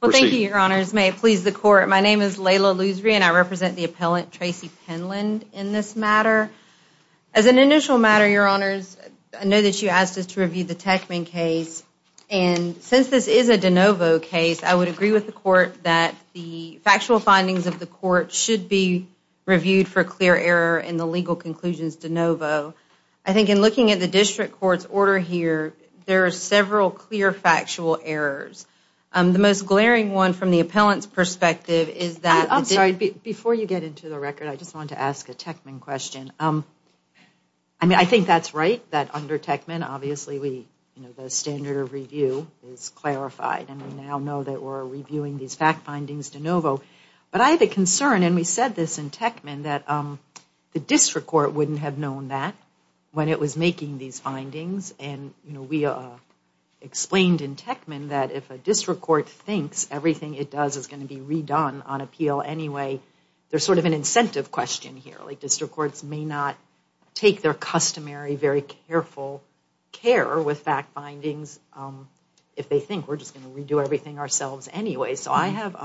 Well, thank you, Your Honors. May it please the Court, my name is Laila Loosery and I represent the appellant, Tracy Penland, in this matter. As an initial matter, Your Honors, I know that you asked us to review the Techman case, and since this is a de novo case, I would agree with the Court that the factual findings of the Court should be reviewed for clear error in the legal conclusions de novo. I think in looking at the District Court's order here, there are several clear factual errors. The most glaring one from the appellant's perspective is that... I'm sorry, before you get into the record, I just wanted to ask a Techman question. I mean, I think that's right, that under Techman, obviously, we, you know, the standard of review is clarified, and we now know that we're reviewing these fact findings de novo. But I have a concern, and we said this in Techman, that the District Court wouldn't have known that when it was making these findings. And, you know, we explained in Techman that if a District Court thinks everything it does is going to be redone on appeal anyway, there's sort of an incentive question here. Like, District Courts may not take their customary, very careful care with fact findings if they think we're just going to redo everything ourselves anyway. So I have,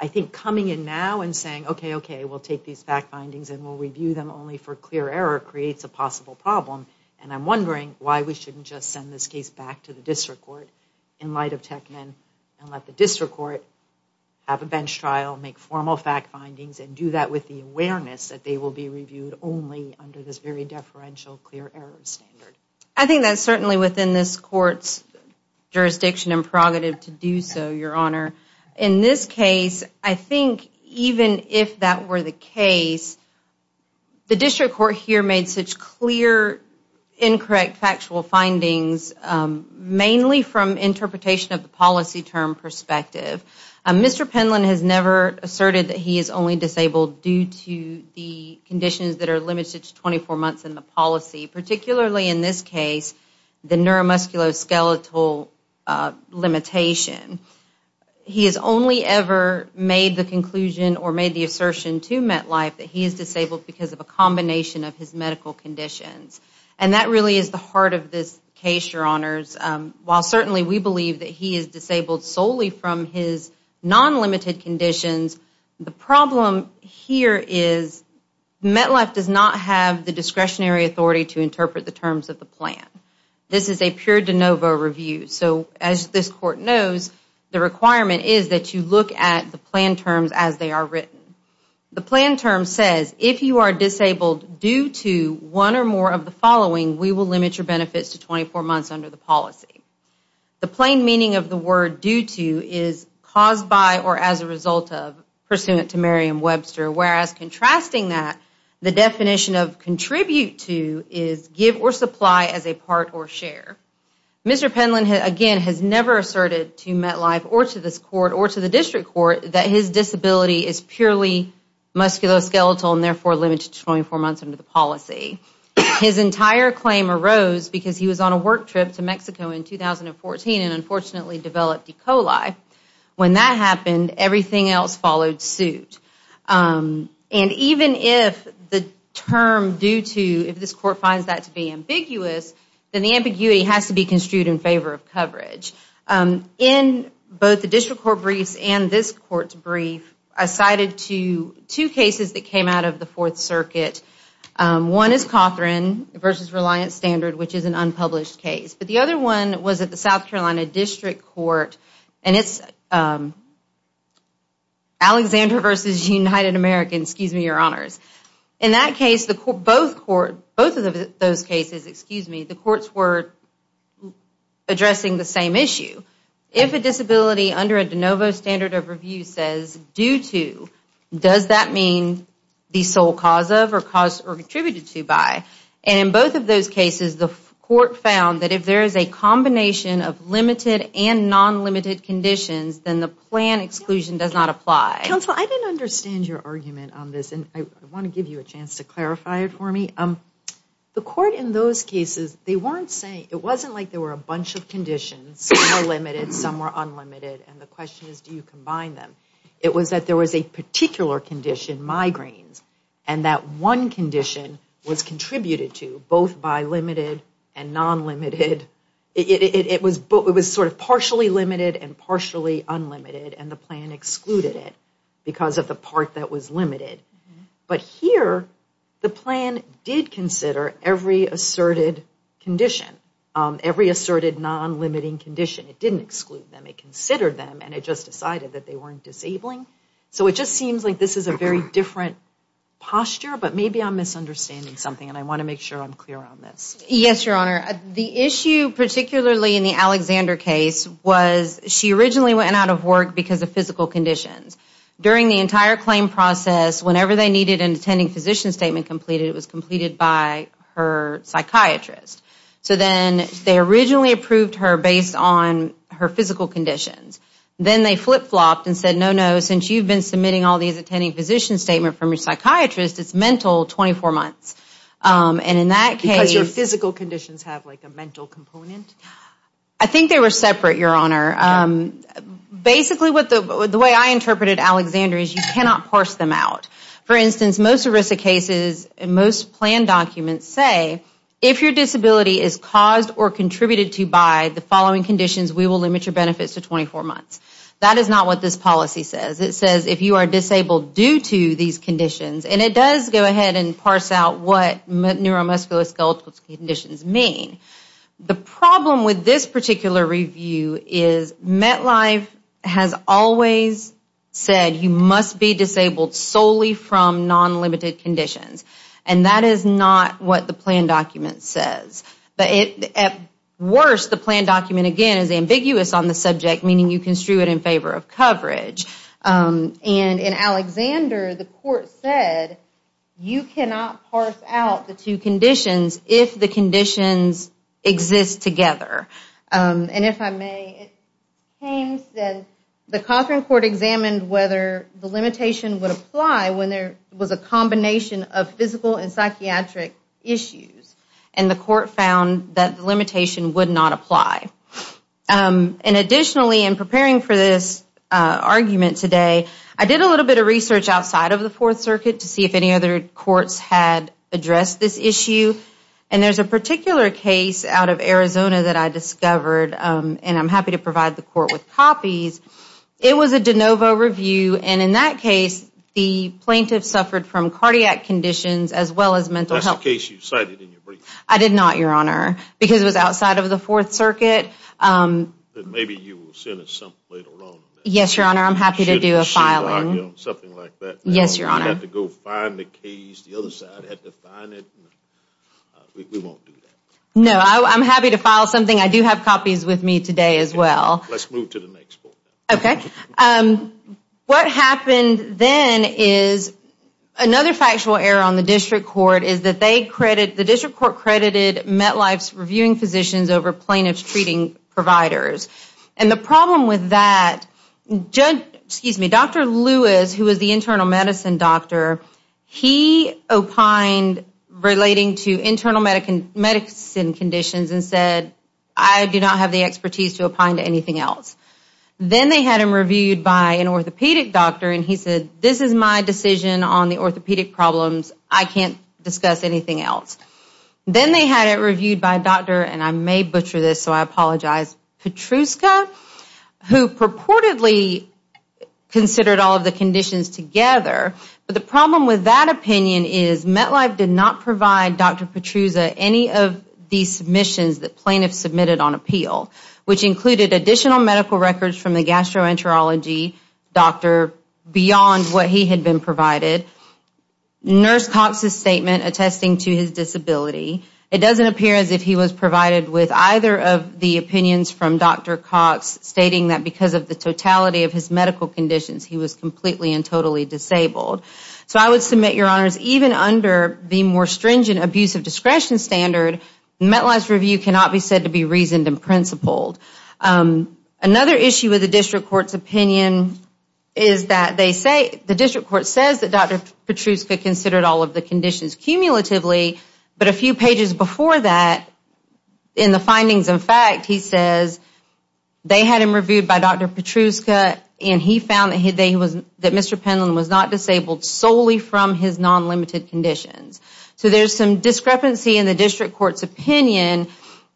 I think, coming in now and saying, okay, okay, we'll take these fact findings and we'll review them only for clear error creates a possible problem. And I'm wondering why we shouldn't just send this case back to the District Court in light of Techman and let the District Court have a bench trial, make formal fact findings, and do that with the awareness that they will be reviewed only under this very deferential clear error standard. I think that's certainly within this Court's jurisdiction and prerogative to do so, Your Honor. In this case, I think even if that were the case, the District Court here made such clear, incorrect factual findings, mainly from interpretation of the policy term perspective. Mr. Penland has never asserted that he is only disabled due to the conditions that are limited to 24 months in the policy. Particularly in this case, the neuromusculoskeletal limitation. He has only ever made the conclusion or made the assertion to MetLife that he is disabled because of a combination of his medical conditions. And that really is the heart of this case, Your Honors. While certainly we believe that he is disabled solely from his non-limited conditions, the problem here is MetLife does not have the discretionary authority to interpret the terms of the plan. This is a pure de novo review. So as this Court knows, the requirement is that you look at the plan terms as they are written. The plan term says, if you are disabled due to one or more of the following, we will limit your benefits to 24 months under the policy. The plain meaning of the word due to is caused by or as a result of, pursuant to Merriam-Webster. Whereas contrasting that, the definition of contribute to is give or supply as a part or share. Mr. Penland, again, has never asserted to MetLife or to this Court or to the District Court that his disability is purely musculoskeletal and therefore limited to 24 months under the policy. His entire claim arose because he was on a work trip to Mexico in 2014 and unfortunately developed E. coli. When that happened, everything else followed suit. And even if the term due to, if this Court finds that to be ambiguous, then the ambiguity has to be construed in favor of coverage. In both the District Court briefs and this Court's brief, I cited two cases that came out of the Fourth Circuit. One is Cothran v. Reliance Standard, which is an unpublished case. But the other one was at the South Carolina District Court, and it's Alexander v. United American, excuse me, Your Honors. In that case, both of those cases, the courts were addressing the same issue. If a disability under a de novo standard of review says due to, does that mean the sole cause of or contributed to by? And in both of those cases, the Court found that if there is a combination of limited and non-limited conditions, then the plan exclusion does not apply. Counsel, I didn't understand your argument on this, and I want to give you a chance to clarify it for me. The Court in those cases, they weren't saying, it wasn't like there were a bunch of conditions. Some were limited, some were unlimited, and the question is, do you combine them? It was that there was a particular condition, migraines, and that one condition was contributed to both by limited and non-limited. It was sort of partially limited and partially unlimited, and the plan excluded it because of the part that was limited. But here, the plan did consider every asserted condition, every asserted non-limiting condition. It didn't exclude them. It considered them, and it just decided that they weren't disabling. So it just seems like this is a very different posture, but maybe I'm misunderstanding something, and I want to make sure I'm clear on this. Yes, Your Honor. The issue, particularly in the Alexander case, was she originally went out of work because of physical conditions. During the entire claim process, whenever they needed an attending physician statement completed, it was completed by her psychiatrist. So then, they originally approved her based on her physical conditions. Then they flip-flopped and said, no, no, since you've been submitting all these attending physician statements from your psychiatrist, it's mental 24 months. And in that case... Because your physical conditions have like a mental component? I think they were separate, Your Honor. Basically, the way I interpreted Alexander is you cannot parse them out. For instance, most ERISA cases and most plan documents say, if your disability is caused or contributed to by the following conditions, we will limit your benefits to 24 months. That is not what this policy says. It says if you are disabled due to these conditions, and it does go ahead and parse out what neuromuscular skeletal conditions mean. The problem with this particular review is MetLife has always said you must be disabled solely from non-limited conditions. And that is not what the plan document says. But at worst, the plan document, again, is ambiguous on the subject, meaning you construe it in favor of coverage. And in Alexander, the court said you cannot parse out the two conditions if the conditions exist together. And if I may, it seems that the Cochran Court examined whether the limitation would apply when there was a combination of physical and psychiatric issues. And the court found that the limitation would not apply. And additionally, in preparing for this argument today, I did a little bit of research outside of the Fourth Circuit to see if any other courts had addressed this issue. And there's a particular case out of Arizona that I discovered, and I'm happy to provide the court with copies. It was a DeNovo review. And in that case, the plaintiff suffered from cardiac conditions as well as mental health. That's the case you cited in your brief. I did not, Your Honor, because it was outside of the Fourth Circuit. Then maybe you will send us something later on. Yes, Your Honor, I'm happy to do a filing. Something like that. Yes, Your Honor. You'll have to go find the case. The other side had to find it. We won't do that. No, I'm happy to file something. I do have copies with me today as well. Let's move to the next point. Okay. What happened then is another factual error on the district court is that they credit, the district court credited MetLife's reviewing physicians over plaintiff's treating providers. And the problem with that, Dr. Lewis, who was the internal medicine doctor, he opined relating to internal medicine conditions and said, I do not have the expertise to opine to anything else. Then they had him reviewed by an orthopedic doctor, and he said, this is my decision on the orthopedic problems. I can't discuss anything else. Then they had it reviewed by a doctor, and I may butcher this, so I apologize, Petruska, who purportedly considered all of the conditions together. But the problem with that opinion is MetLife did not provide Dr. Petruska any of these submissions that plaintiffs submitted on appeal, which included additional medical records from the gastroenterology doctor beyond what he had been provided, Nurse Cox's statement attesting to his disability. It doesn't appear as if he was provided with either of the opinions from Dr. Cox, stating that because of the totality of his medical conditions, he was completely and totally disabled. So I would submit, Your Honors, even under the more stringent abuse of discretion standard, MetLife's review cannot be said to be reasoned and principled. Another issue with the district court's opinion is that they say, the district court says that Dr. Petruska considered all of the conditions cumulatively, but a few pages before that, in the findings and fact, he says they had him reviewed by Dr. Petruska, and he found that Mr. Penland was not disabled solely from his non-limited conditions. So there's some discrepancy in the district court's opinion,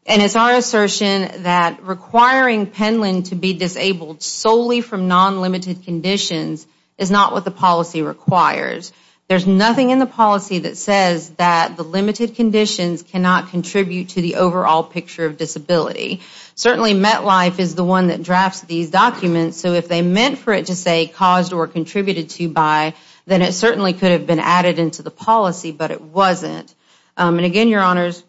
and it's our assertion that requiring Penland to be disabled solely from non-limited conditions is not what the policy requires. There's nothing in the policy that says that the limited conditions cannot contribute to the overall picture of disability. Certainly, MetLife is the one that drafts these documents, so if they meant for it to say caused or contributed to by, then it certainly could have been added into the policy, but it wasn't. And again, Your Honors,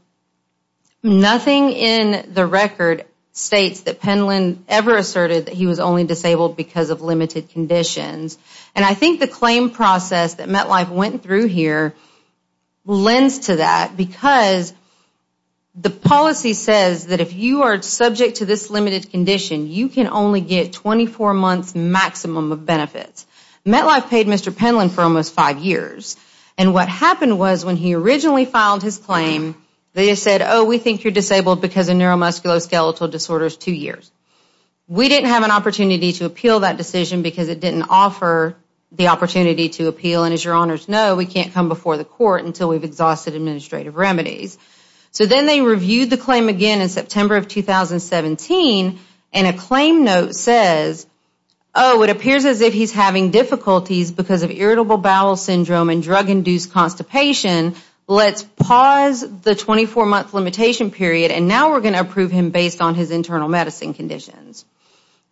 nothing in the record states that Penland ever asserted that he was only disabled because of limited conditions. And I think the claim process that MetLife went through here lends to that because the policy says that if you are subject to this limited condition, you can only get 24 months maximum of benefits. MetLife paid Mr. Penland for almost five years, and what happened was when he originally filed his claim, they said, oh, we think you're disabled because of neuromusculoskeletal disorders two years. We didn't have an opportunity to appeal that decision because it didn't offer the opportunity to appeal, and as Your Honors know, we can't come before the court until we've exhausted administrative remedies. So then they reviewed the claim again in September of 2017, and a claim note says, oh, it appears as if he's having difficulties because of irritable bowel syndrome and drug-induced constipation. Let's pause the 24-month limitation period, and now we're going to approve him based on his internal medicine conditions.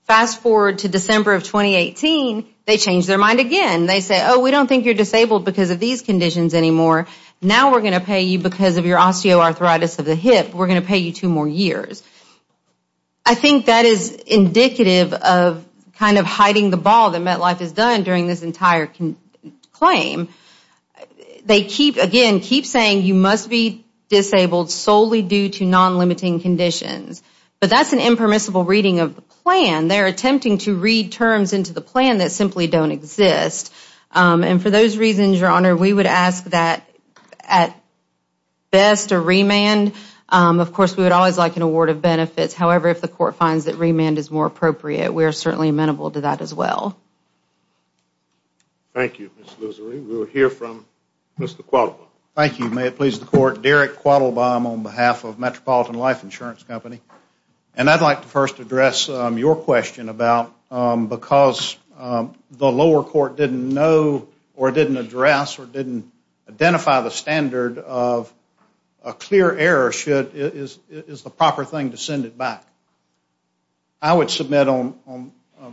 Fast forward to December of 2018, they changed their mind again. They say, oh, we don't think you're disabled because of these conditions anymore. Now we're going to pay you because of your osteoarthritis of the hip. We're going to pay you two more years. I think that is indicative of kind of hiding the ball that MetLife has done during this entire claim. They keep, again, keep saying you must be disabled solely due to non-limiting conditions, but that's an impermissible reading of the plan. They're attempting to read terms into the plan that simply don't exist, and for those reasons, Your Honor, we would ask that at best a remand. Of course, we would always like an award of benefits. However, if the court finds that remand is more appropriate, we are certainly amenable to that as well. Thank you, Ms. Losery. We will hear from Mr. Quattlebaum. Thank you. May it please the Court. Derek Quattlebaum on behalf of Metropolitan Life Insurance Company, and I'd like to first address your question about because the lower court didn't know or didn't address or didn't identify the standard of a clear error is the proper thing to send it back. I would submit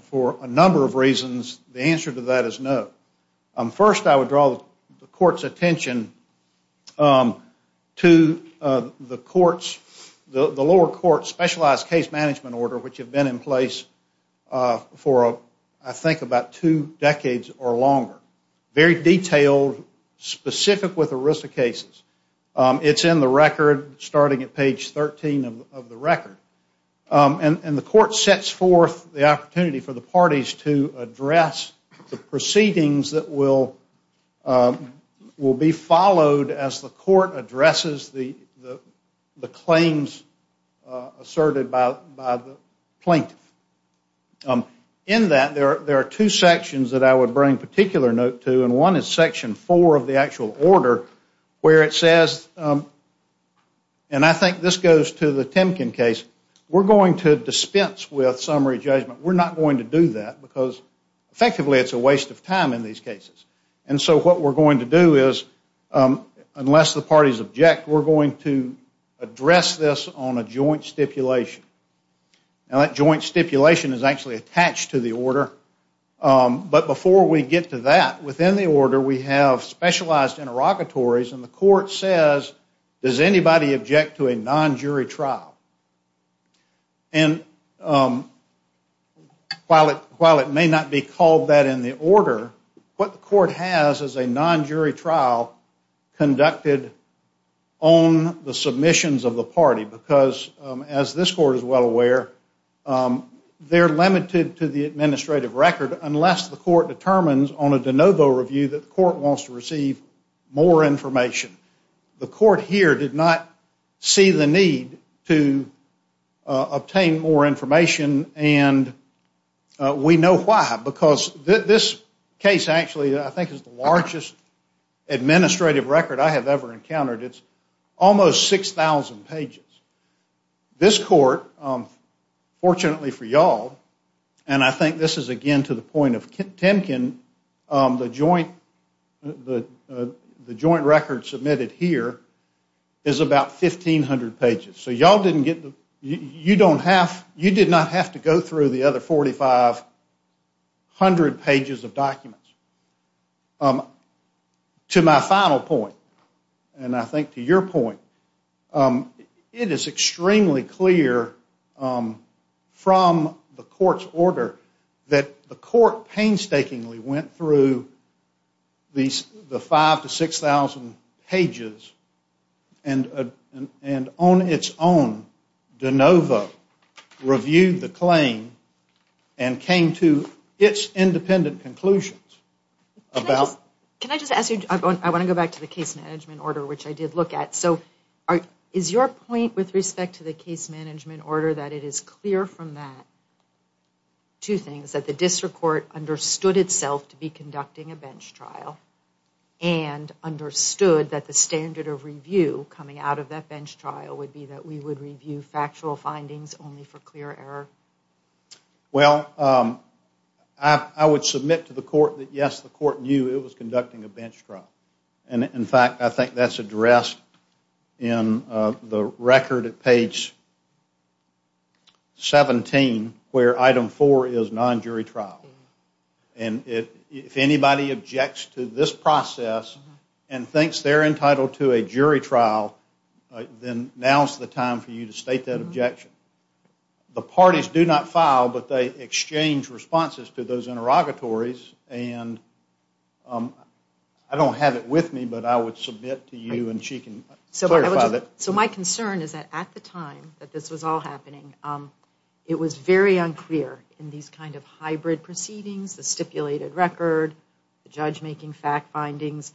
for a number of reasons the answer to that is no. First, I would draw the court's attention to the lower court's specialized case management order, which have been in place for, I think, about two decades or longer, very detailed, specific with the risk of cases. It's in the record starting at page 13 of the record, and the court sets forth the opportunity for the parties to address the proceedings that will be followed as the court addresses the claims asserted by the plaintiff. In that, there are two sections that I would bring particular note to, and one is section four of the actual order where it says, and I think this goes to the Timken case, we're going to dispense with summary judgment. We're not going to do that because, effectively, it's a waste of time in these cases, and so what we're going to do is, unless the parties object, we're going to address this on a joint stipulation. Now, that joint stipulation is actually attached to the order, but before we get to that, within the order, we have specialized interrogatories, and the court says, does anybody object to a non-jury trial? And while it may not be called that in the order, what the court has is a non-jury trial conducted on the submissions of the party because, as this court is well aware, they're limited to the administrative record unless the court determines on a de novo review that the court wants to receive more information. The court here did not see the need to obtain more information, and we know why, because this case actually, I think, is the largest administrative record I have ever encountered. It's almost 6,000 pages. This court, fortunately for you all, and I think this is, again, to the point of Timken, the joint record submitted here is about 1,500 pages, so you did not have to go through the other 4,500 pages of documents. To my final point, and I think to your point, it is extremely clear from the court's order that the court painstakingly went through the 5,000 to 6,000 pages and on its own de novo reviewed the claim and came to its independent conclusions about... Can I just ask you, I want to go back to the case management order, which I did look at. So is your point with respect to the case management order that it is clear from that two things, that the district court understood itself to be conducting a bench trial and understood that the standard of review coming out of that bench trial would be that we would review factual findings only for clear error? Well, I would submit to the court that, yes, the court knew it was conducting a bench trial. And, in fact, I think that's addressed in the record at page 17 where item 4 is non-jury trial. And if anybody objects to this process and thinks they're entitled to a jury trial, then now is the time for you to state that objection. The parties do not file, but they exchange responses to those interrogatories. And I don't have it with me, but I would submit to you and she can clarify that. So my concern is that at the time that this was all happening, it was very unclear in these kind of hybrid proceedings, the stipulated record, the judge-making fact findings,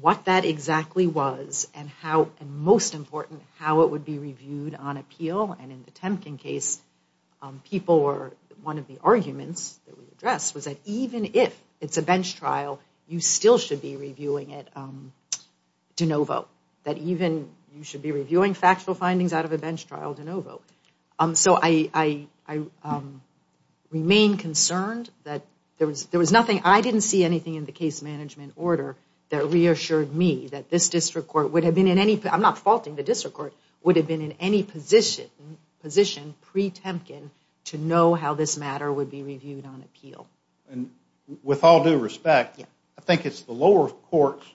what that exactly was and, most important, how it would be reviewed on appeal. And in the Temkin case, one of the arguments that we addressed was that even if it's a bench trial, you still should be reviewing it de novo, that even you should be reviewing factual findings out of a bench trial de novo. So I remain concerned that there was nothing, I didn't see anything in the case management order that reassured me that this district court would have been in any, I'm not faulting the district court, would have been in any position pre-Temkin to know how this matter would be reviewed on appeal. And with all due respect, I think it's the lower court's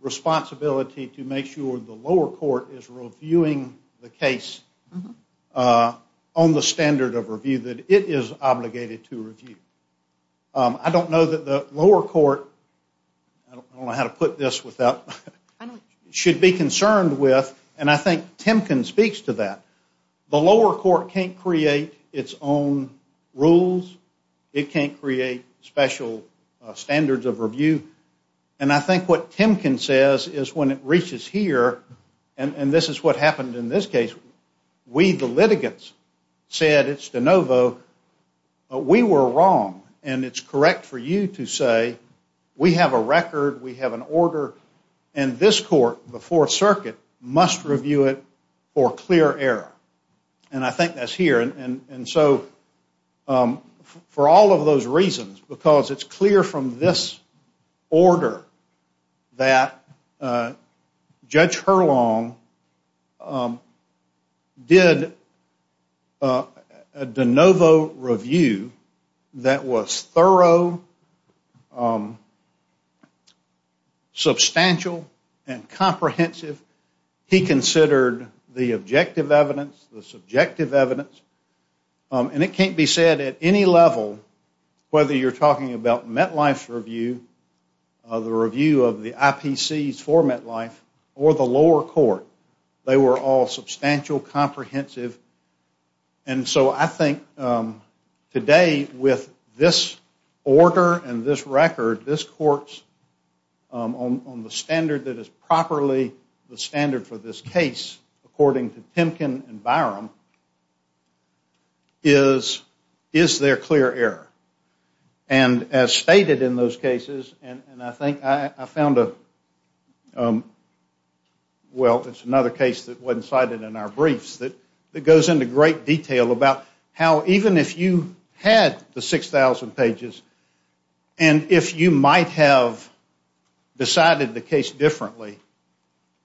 responsibility to make sure the lower court is reviewing the case on the standard of review that it is obligated to review. I don't know that the lower court, I don't know how to put this without, should be concerned with, and I think Temkin speaks to that, the lower court can't create its own rules, it can't create special standards of review, and I think what Temkin says is when it reaches here, and this is what happened in this case, we, the litigants, said it's de novo, we were wrong, and it's correct for you to say we have a record, we have an order, and this court, the Fourth Circuit, must review it for clear error. And I think that's here, and so for all of those reasons, because it's clear from this order that Judge Hurlong did a de novo review that was thorough, substantial, and comprehensive. He considered the objective evidence, the subjective evidence, and it can't be said at any level, whether you're talking about MetLife's review, the review of the IPCs for MetLife, or the lower court, they were all substantial, comprehensive, and so I think today with this order and this record, this court's, on the standard that is properly the standard for this case, according to Temkin and Byram, is, is there clear error? And as stated in those cases, and I think I found a, well, it's another case that wasn't cited in our briefs that goes into great detail about how even if you had the 6,000 pages, and if you might have decided the case differently,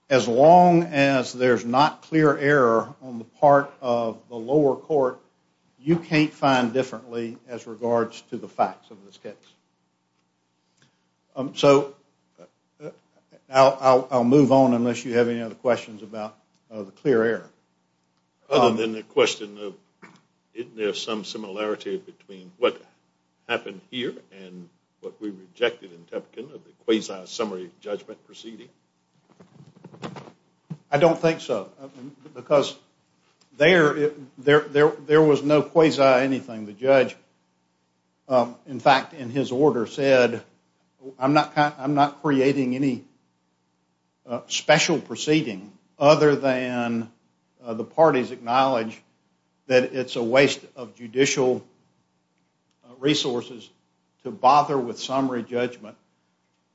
as long as there's not clear error on the part of the lower court, you can't find differently as regards to the facts of this case. So I'll move on unless you have any other questions about the clear error. Other than the question of isn't there some similarity between what happened here and what we rejected in Temkin of the quasi-summary judgment proceeding? I don't think so, because there, there was no quasi-anything. The judge, in fact, in his order said, I'm not creating any special proceeding other than the parties acknowledge that it's a waste of judicial resources to bother with summary judgment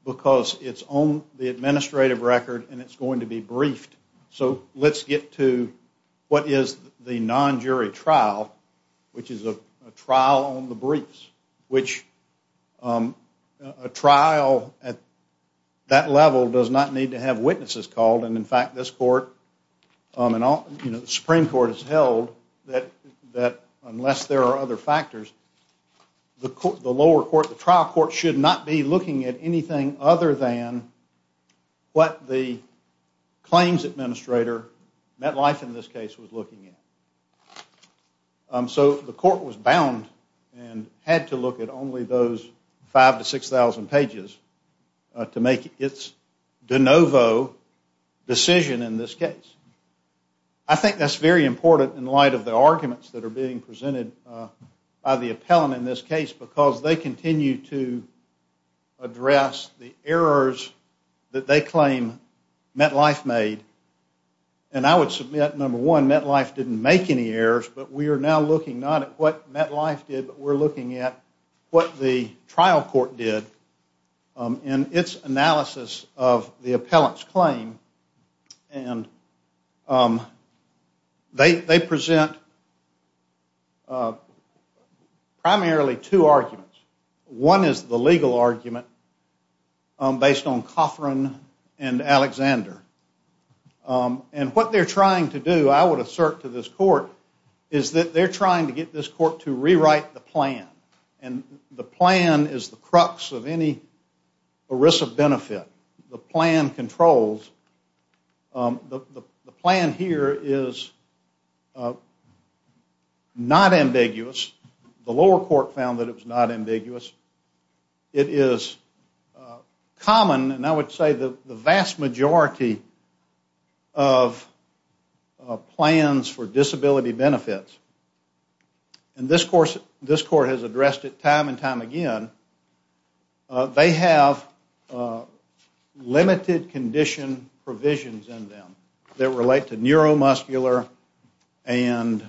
because it's on the administrative record, and it's going to be briefed. So let's get to what is the non-jury trial, which is a trial on the briefs, which a trial at that level does not need to have witnesses called, and in fact, this court, the Supreme Court has held that unless there are other factors, the lower court, the trial court should not be looking at anything other than what the claims administrator, MetLife in this case, was looking at. So the court was bound and had to look at only those 5,000 to 6,000 pages to make its de novo decision in this case. I think that's very important in light of the arguments that are being presented by the appellant in this case because they continue to address the errors that they claim MetLife made, and I would submit, number one, MetLife didn't make any errors, but we are now looking not at what MetLife did, we're looking at what the trial court did in its analysis of the appellant's claim, and they present primarily two arguments. One is the legal argument based on Coughran and Alexander, and what they're trying to do, I would assert to this court, is that they're trying to get this court to rewrite the plan, and the plan is the crux of any ERISA benefit. The plan controls. The plan here is not ambiguous. The lower court found that it was not ambiguous. It is common, and I would say the vast majority of plans for disability benefits, and this court has addressed it time and time again, they have limited condition provisions in them that relate to neuromuscular and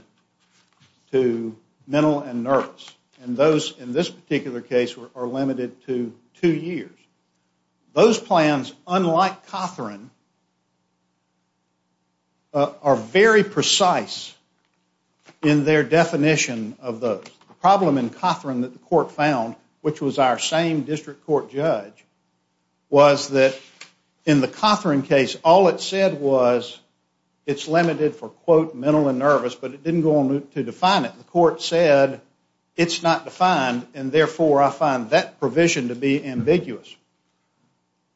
to mental and nerves, and those in this particular case are limited to two years. Those plans, unlike Coughran, are very precise in their definition of those. The problem in Coughran that the court found, which was our same district court judge, was that in the Coughran case, all it said was it's limited for, quote, mental and nerves, but it didn't go on to define it. The court said it's not defined, and therefore I find that provision to be ambiguous.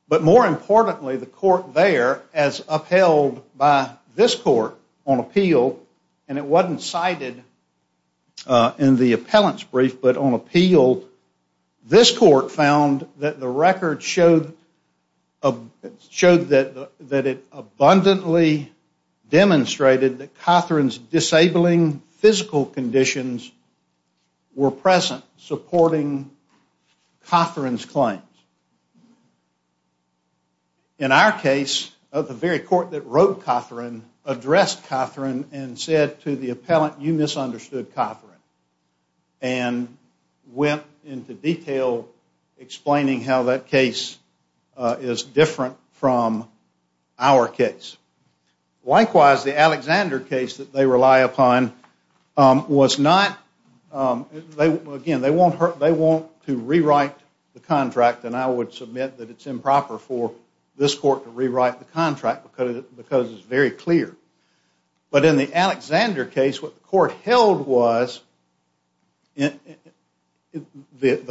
But more importantly, the court there, as upheld by this court on appeal, and it wasn't cited in the appellant's brief, but on appeal, this court found that the record showed that it abundantly demonstrated that Coughran's disabling physical conditions were present supporting Coughran's claims. In our case, the very court that wrote Coughran addressed Coughran and said to the appellant, you misunderstood Coughran, and went into detail explaining how that case is different from our case. Likewise, the Alexander case that they rely upon was not, again, they want to rewrite the contract, and I would submit that it's improper for this court to rewrite the contract because it's very clear. But in the Alexander case, what the court held was, the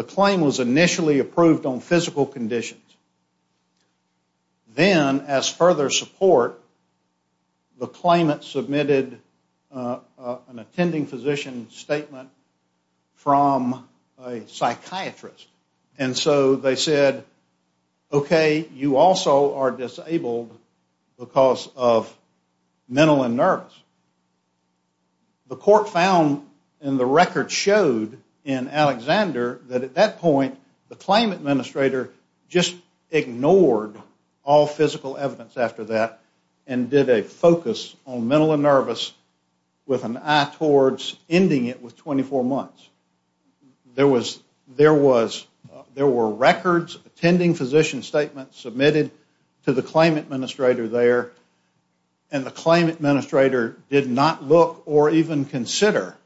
claim was initially approved on physical conditions. Then, as further support, the claimant submitted an attending physician statement from a psychiatrist. And so they said, okay, you also are disabled because of mental and nervous. The court found in the record showed in Alexander that at that point, the claim administrator just ignored all physical evidence after that and did a focus on mental and nervous with an eye towards ending it with 24 months. There were records, attending physician statements, submitted to the claim administrator there, and the claim administrator did not look or even consider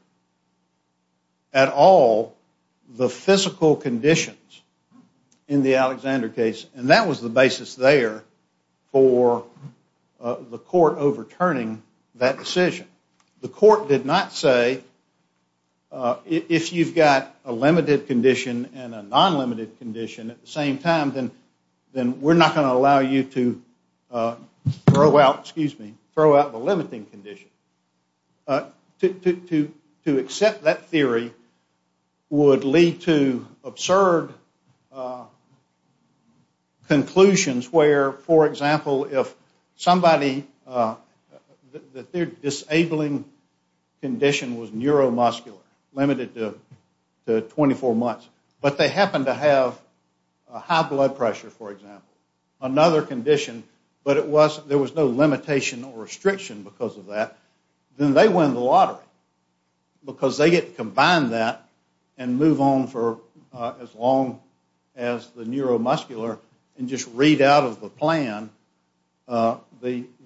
at all the physical conditions in the Alexander case. And that was the basis there for the court overturning that decision. The court did not say, if you've got a limited condition and a non-limited condition at the same time, then we're not going to allow you to throw out the limiting condition. To accept that theory would lead to absurd conclusions where, for example, if somebody, that their disabling condition was neuromuscular, limited to 24 months, but they happen to have high blood pressure, for example, another condition, but there was no limitation or restriction because of that, then they win the lottery because they get to combine that and move on for as long as the neuromuscular and just read out of the plan the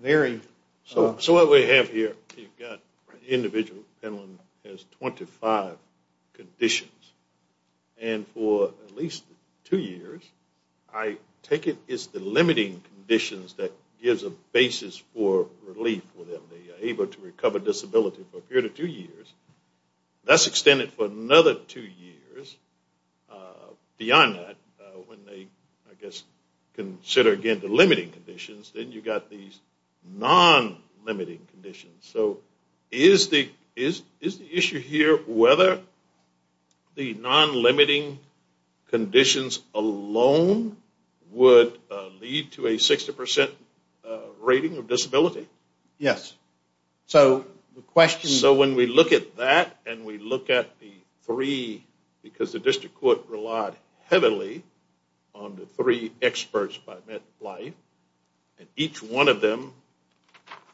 very... So what we have here, you've got an individual who has 25 conditions, and for at least two years, I take it it's the limiting conditions that gives a basis for relief for them. They are able to recover disability for a period of two years. That's extended for another two years. Beyond that, when they, I guess, consider again the limiting conditions, then you've got these non-limiting conditions. So is the issue here whether the non-limiting conditions alone would lead to a 60% rating of disability? Yes. So the question... So when we look at that and we look at the three, because the district court relied heavily on the three experts by MetLife, and each one of them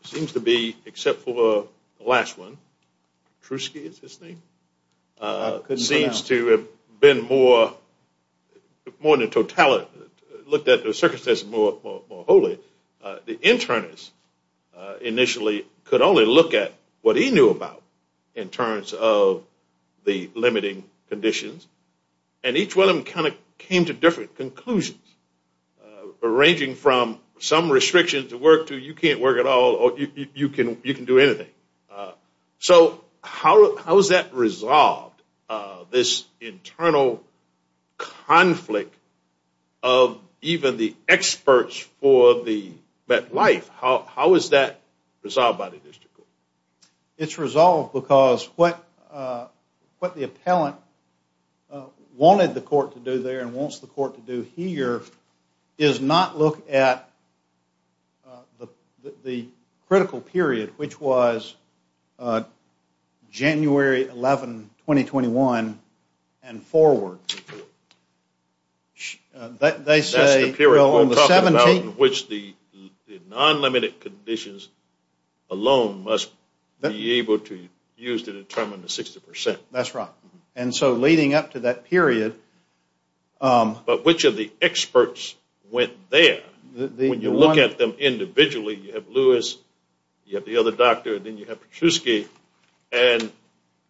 seems to be, except for the last one, Trusky is his name, seems to have been more than a total... looked at the circumstances more wholly. So the internist initially could only look at what he knew about in terms of the limiting conditions, and each one of them kind of came to different conclusions, ranging from some restrictions to work to you can't work at all or you can do anything. So how is that resolved, this internal conflict of even the experts for the MetLife? How is that resolved by the district court? It's resolved because what the appellant wanted the court to do there and wants the court to do here is not look at the critical period, which was January 11, 2021, and forward. They say... That's the period we're talking about in which the non-limited conditions alone must be able to use to determine the 60%. That's right. And so leading up to that period... But which of the experts went there? When you look at them individually, you have Lewis, you have the other doctor, then you have Trusky, and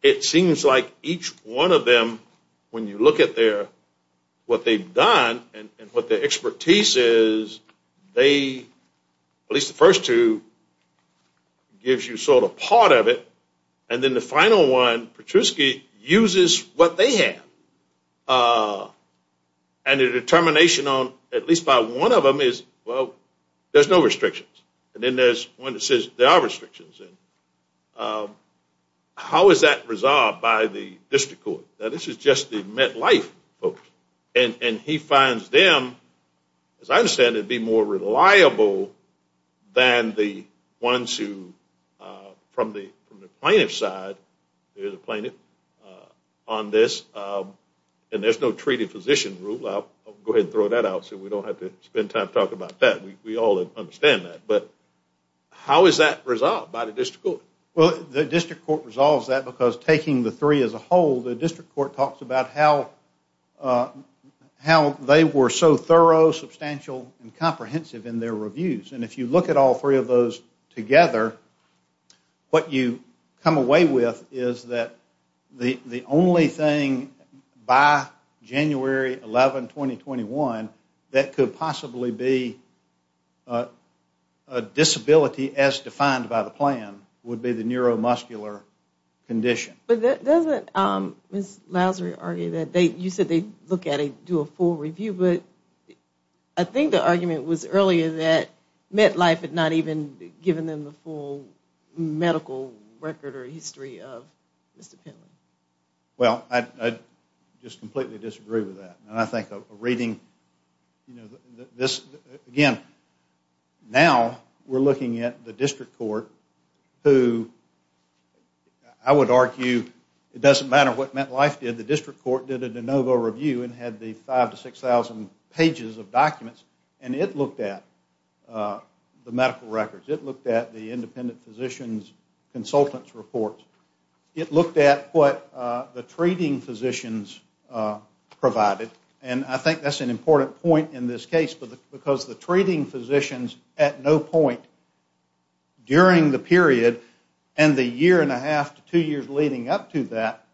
it seems like each one of them, when you look at what they've done and what their expertise is, they, at least the first two, gives you sort of part of it, and then the final one, Trusky, uses what they have. And the determination on at least by one of them is, well, there's no restrictions. And then there's one that says there are restrictions. And how is that resolved by the district court? Now, this is just the MetLife folks, and he finds them, as I understand it, to be more reliable than the ones who, from the plaintiff's side, there's a plaintiff on this, and there's no treated physician rule. I'll go ahead and throw that out so we don't have to spend time talking about that. We all understand that. But how is that resolved by the district court? Well, the district court resolves that because taking the three as a whole, the district court talks about how they were so thorough, substantial, and comprehensive in their reviews. And if you look at all three of those together, what you come away with is that the only thing by January 11, 2021, that could possibly be a disability as defined by the plan would be the neuromuscular condition. But doesn't Ms. Lazary argue that they, you said they look at it, do a full review, but I think the argument was earlier that MetLife had not even given them the full medical record or history of Mr. Pentland. Well, I just completely disagree with that. And I think a reading, you know, this, again, now we're looking at the district court who, I would argue, it doesn't matter what MetLife did, the district court did a de novo review and had the 5,000 to 6,000 pages of documents, and it looked at the medical records. It looked at the independent physicians' consultants' reports. It looked at what the treating physicians provided. And I think that's an important point in this case, because the treating physicians at no point during the period and the year and a half to two years leading up to that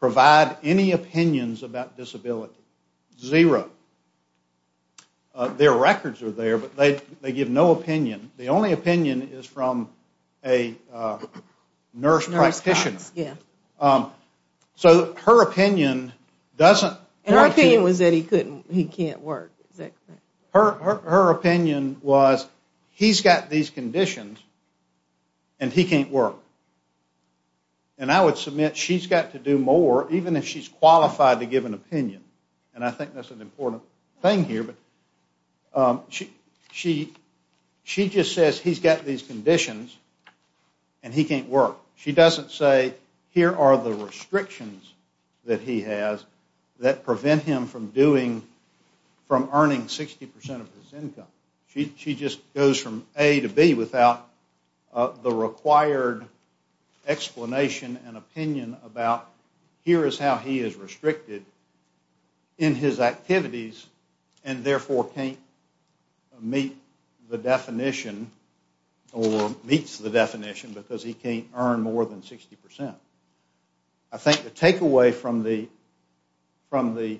provide any opinions about disability, zero. Their records are there, but they give no opinion. The only opinion is from a nurse practitioner. So her opinion doesn't. And her opinion was that he can't work, is that correct? Her opinion was he's got these conditions and he can't work. And I would submit she's got to do more, even if she's qualified to give an opinion, and I think that's an important thing here, but she just says he's got these conditions and he can't work. She doesn't say here are the restrictions that he has that prevent him from earning 60% of his income. She just goes from A to B without the required explanation and opinion about here is how he is restricted in his activities and therefore can't meet the definition or meets the definition because he can't earn more than 60%. I think the takeaway from the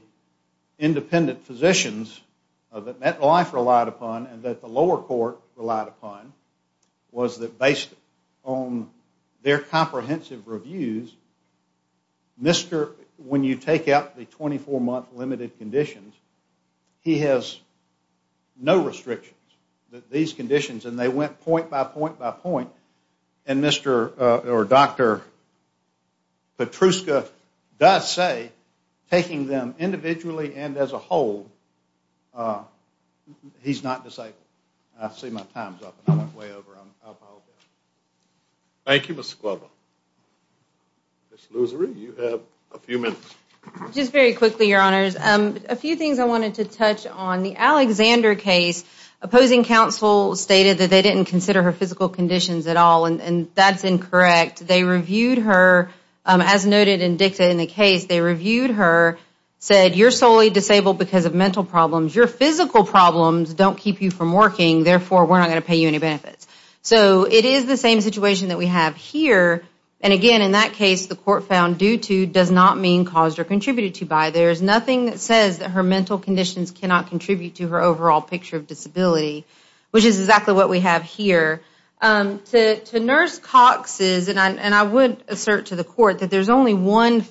independent physicians that MetLife relied upon and that the lower court relied upon was that based on their comprehensive reviews, when you take out the 24-month limited conditions, he has no restrictions that these conditions, and they went point by point by point, and Dr. Petruska does say taking them individually and as a whole, he's not disabled. I see my time's up and I'm way over on alcohol. Thank you, Mr. Glover. Ms. Loosery, you have a few minutes. Just very quickly, Your Honors. A few things I wanted to touch on. The Alexander case, opposing counsel stated that they didn't consider her physical conditions at all, and that's incorrect. They reviewed her. As noted in DICTA in the case, they reviewed her, said you're solely disabled because of mental problems. Your physical problems don't keep you from working. Therefore, we're not going to pay you any benefits. So it is the same situation that we have here. And again, in that case, the court found due to does not mean caused or contributed to by. There is nothing that says that her mental conditions cannot contribute to her overall picture of disability, which is exactly what we have here. To Nurse Cox's, and I would assert to the court that there's only one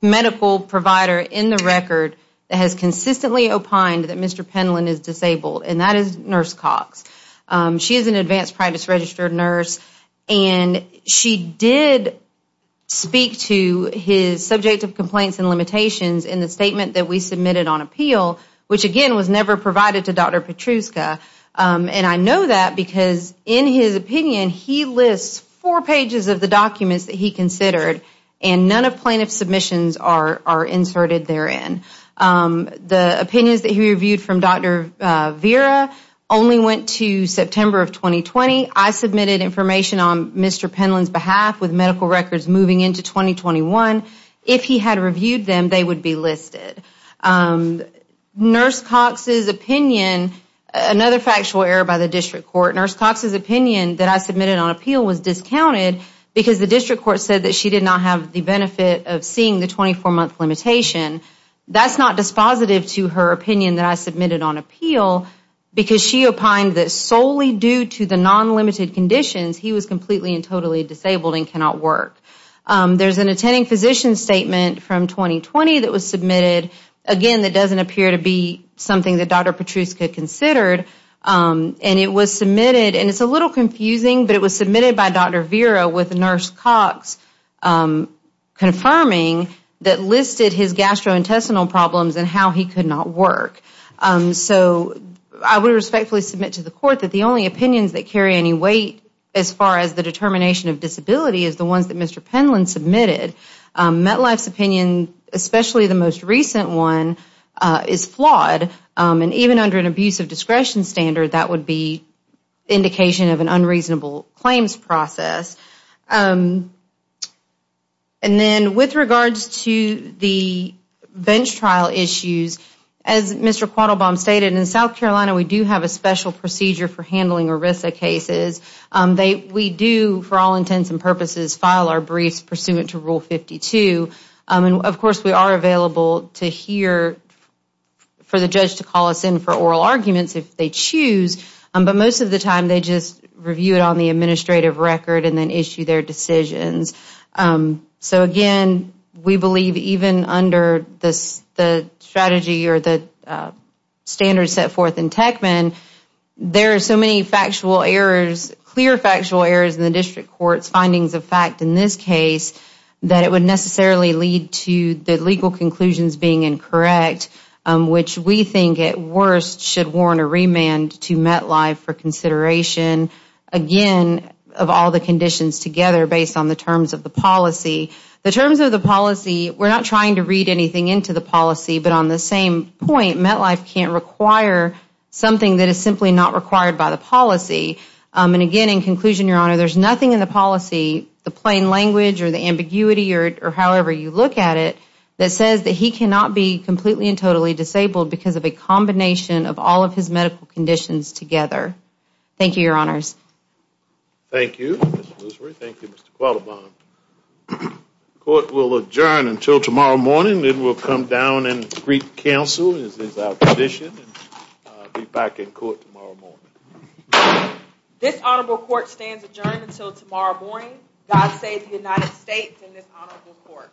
medical provider in the record that has consistently opined that Mr. Penland is disabled, and that is Nurse Cox. She is an advanced practice registered nurse, and she did speak to his subject of complaints and limitations in the statement that we submitted on appeal, which again was never provided to Dr. Petruska. And I know that because in his opinion, he lists four pages of the documents that he considered, and none of plaintiff's submissions are inserted therein. The opinions that he reviewed from Dr. Vera only went to September of 2020. I submitted information on Mr. Penland's behalf with medical records moving into 2021. If he had reviewed them, they would be listed. Nurse Cox's opinion, another factual error by the district court, Nurse Cox's opinion that I submitted on appeal was discounted because the district court said that she did not have the benefit of seeing the 24-month limitation. That's not dispositive to her opinion that I submitted on appeal because she opined that solely due to the non-limited conditions, he was completely and totally disabled and cannot work. There's an attending physician statement from 2020 that was submitted, again that doesn't appear to be something that Dr. Petruska considered. And it was submitted, and it's a little confusing, but it was submitted by Dr. Vera with Nurse Cox confirming that listed his gastrointestinal problems and how he could not work. So I would respectfully submit to the court that the only opinions that carry any weight as far as the determination of disability is the ones that Mr. Penland submitted. MetLife's opinion, especially the most recent one, is flawed. And even under an abusive discretion standard, that would be indication of an unreasonable claims process. And then with regards to the bench trial issues, as Mr. Quattlebaum stated, in South Carolina we do have a special procedure for handling ERISA cases. We do, for all intents and purposes, file our briefs pursuant to Rule 52. Of course we are available to hear for the judge to call us in for oral arguments if they choose, but most of the time they just review it on the administrative record and then issue their decisions. So again, we believe even under the strategy or the standards set forth in Techman, there are so many clear factual errors in the district court's findings of fact in this case that it would necessarily lead to the legal conclusions being incorrect, which we think at worst should warrant a remand to MetLife for consideration, again, of all the conditions together based on the terms of the policy. The terms of the policy, we are not trying to read anything into the policy, but on the same point, MetLife can't require something that is simply not required by the policy. And again, in conclusion, Your Honor, there is nothing in the policy, the plain language or the ambiguity or however you look at it, that says that he cannot be completely and totally disabled because of a combination of all of his medical conditions together. Thank you, Your Honors. Thank you, Mr. Loosery. Thank you, Mr. Quattlebaum. Court will adjourn until tomorrow morning. Then we'll come down and greet counsel as is our condition and be back in court tomorrow morning. This honorable court stands adjourned until tomorrow morning. God save the United States and this honorable court.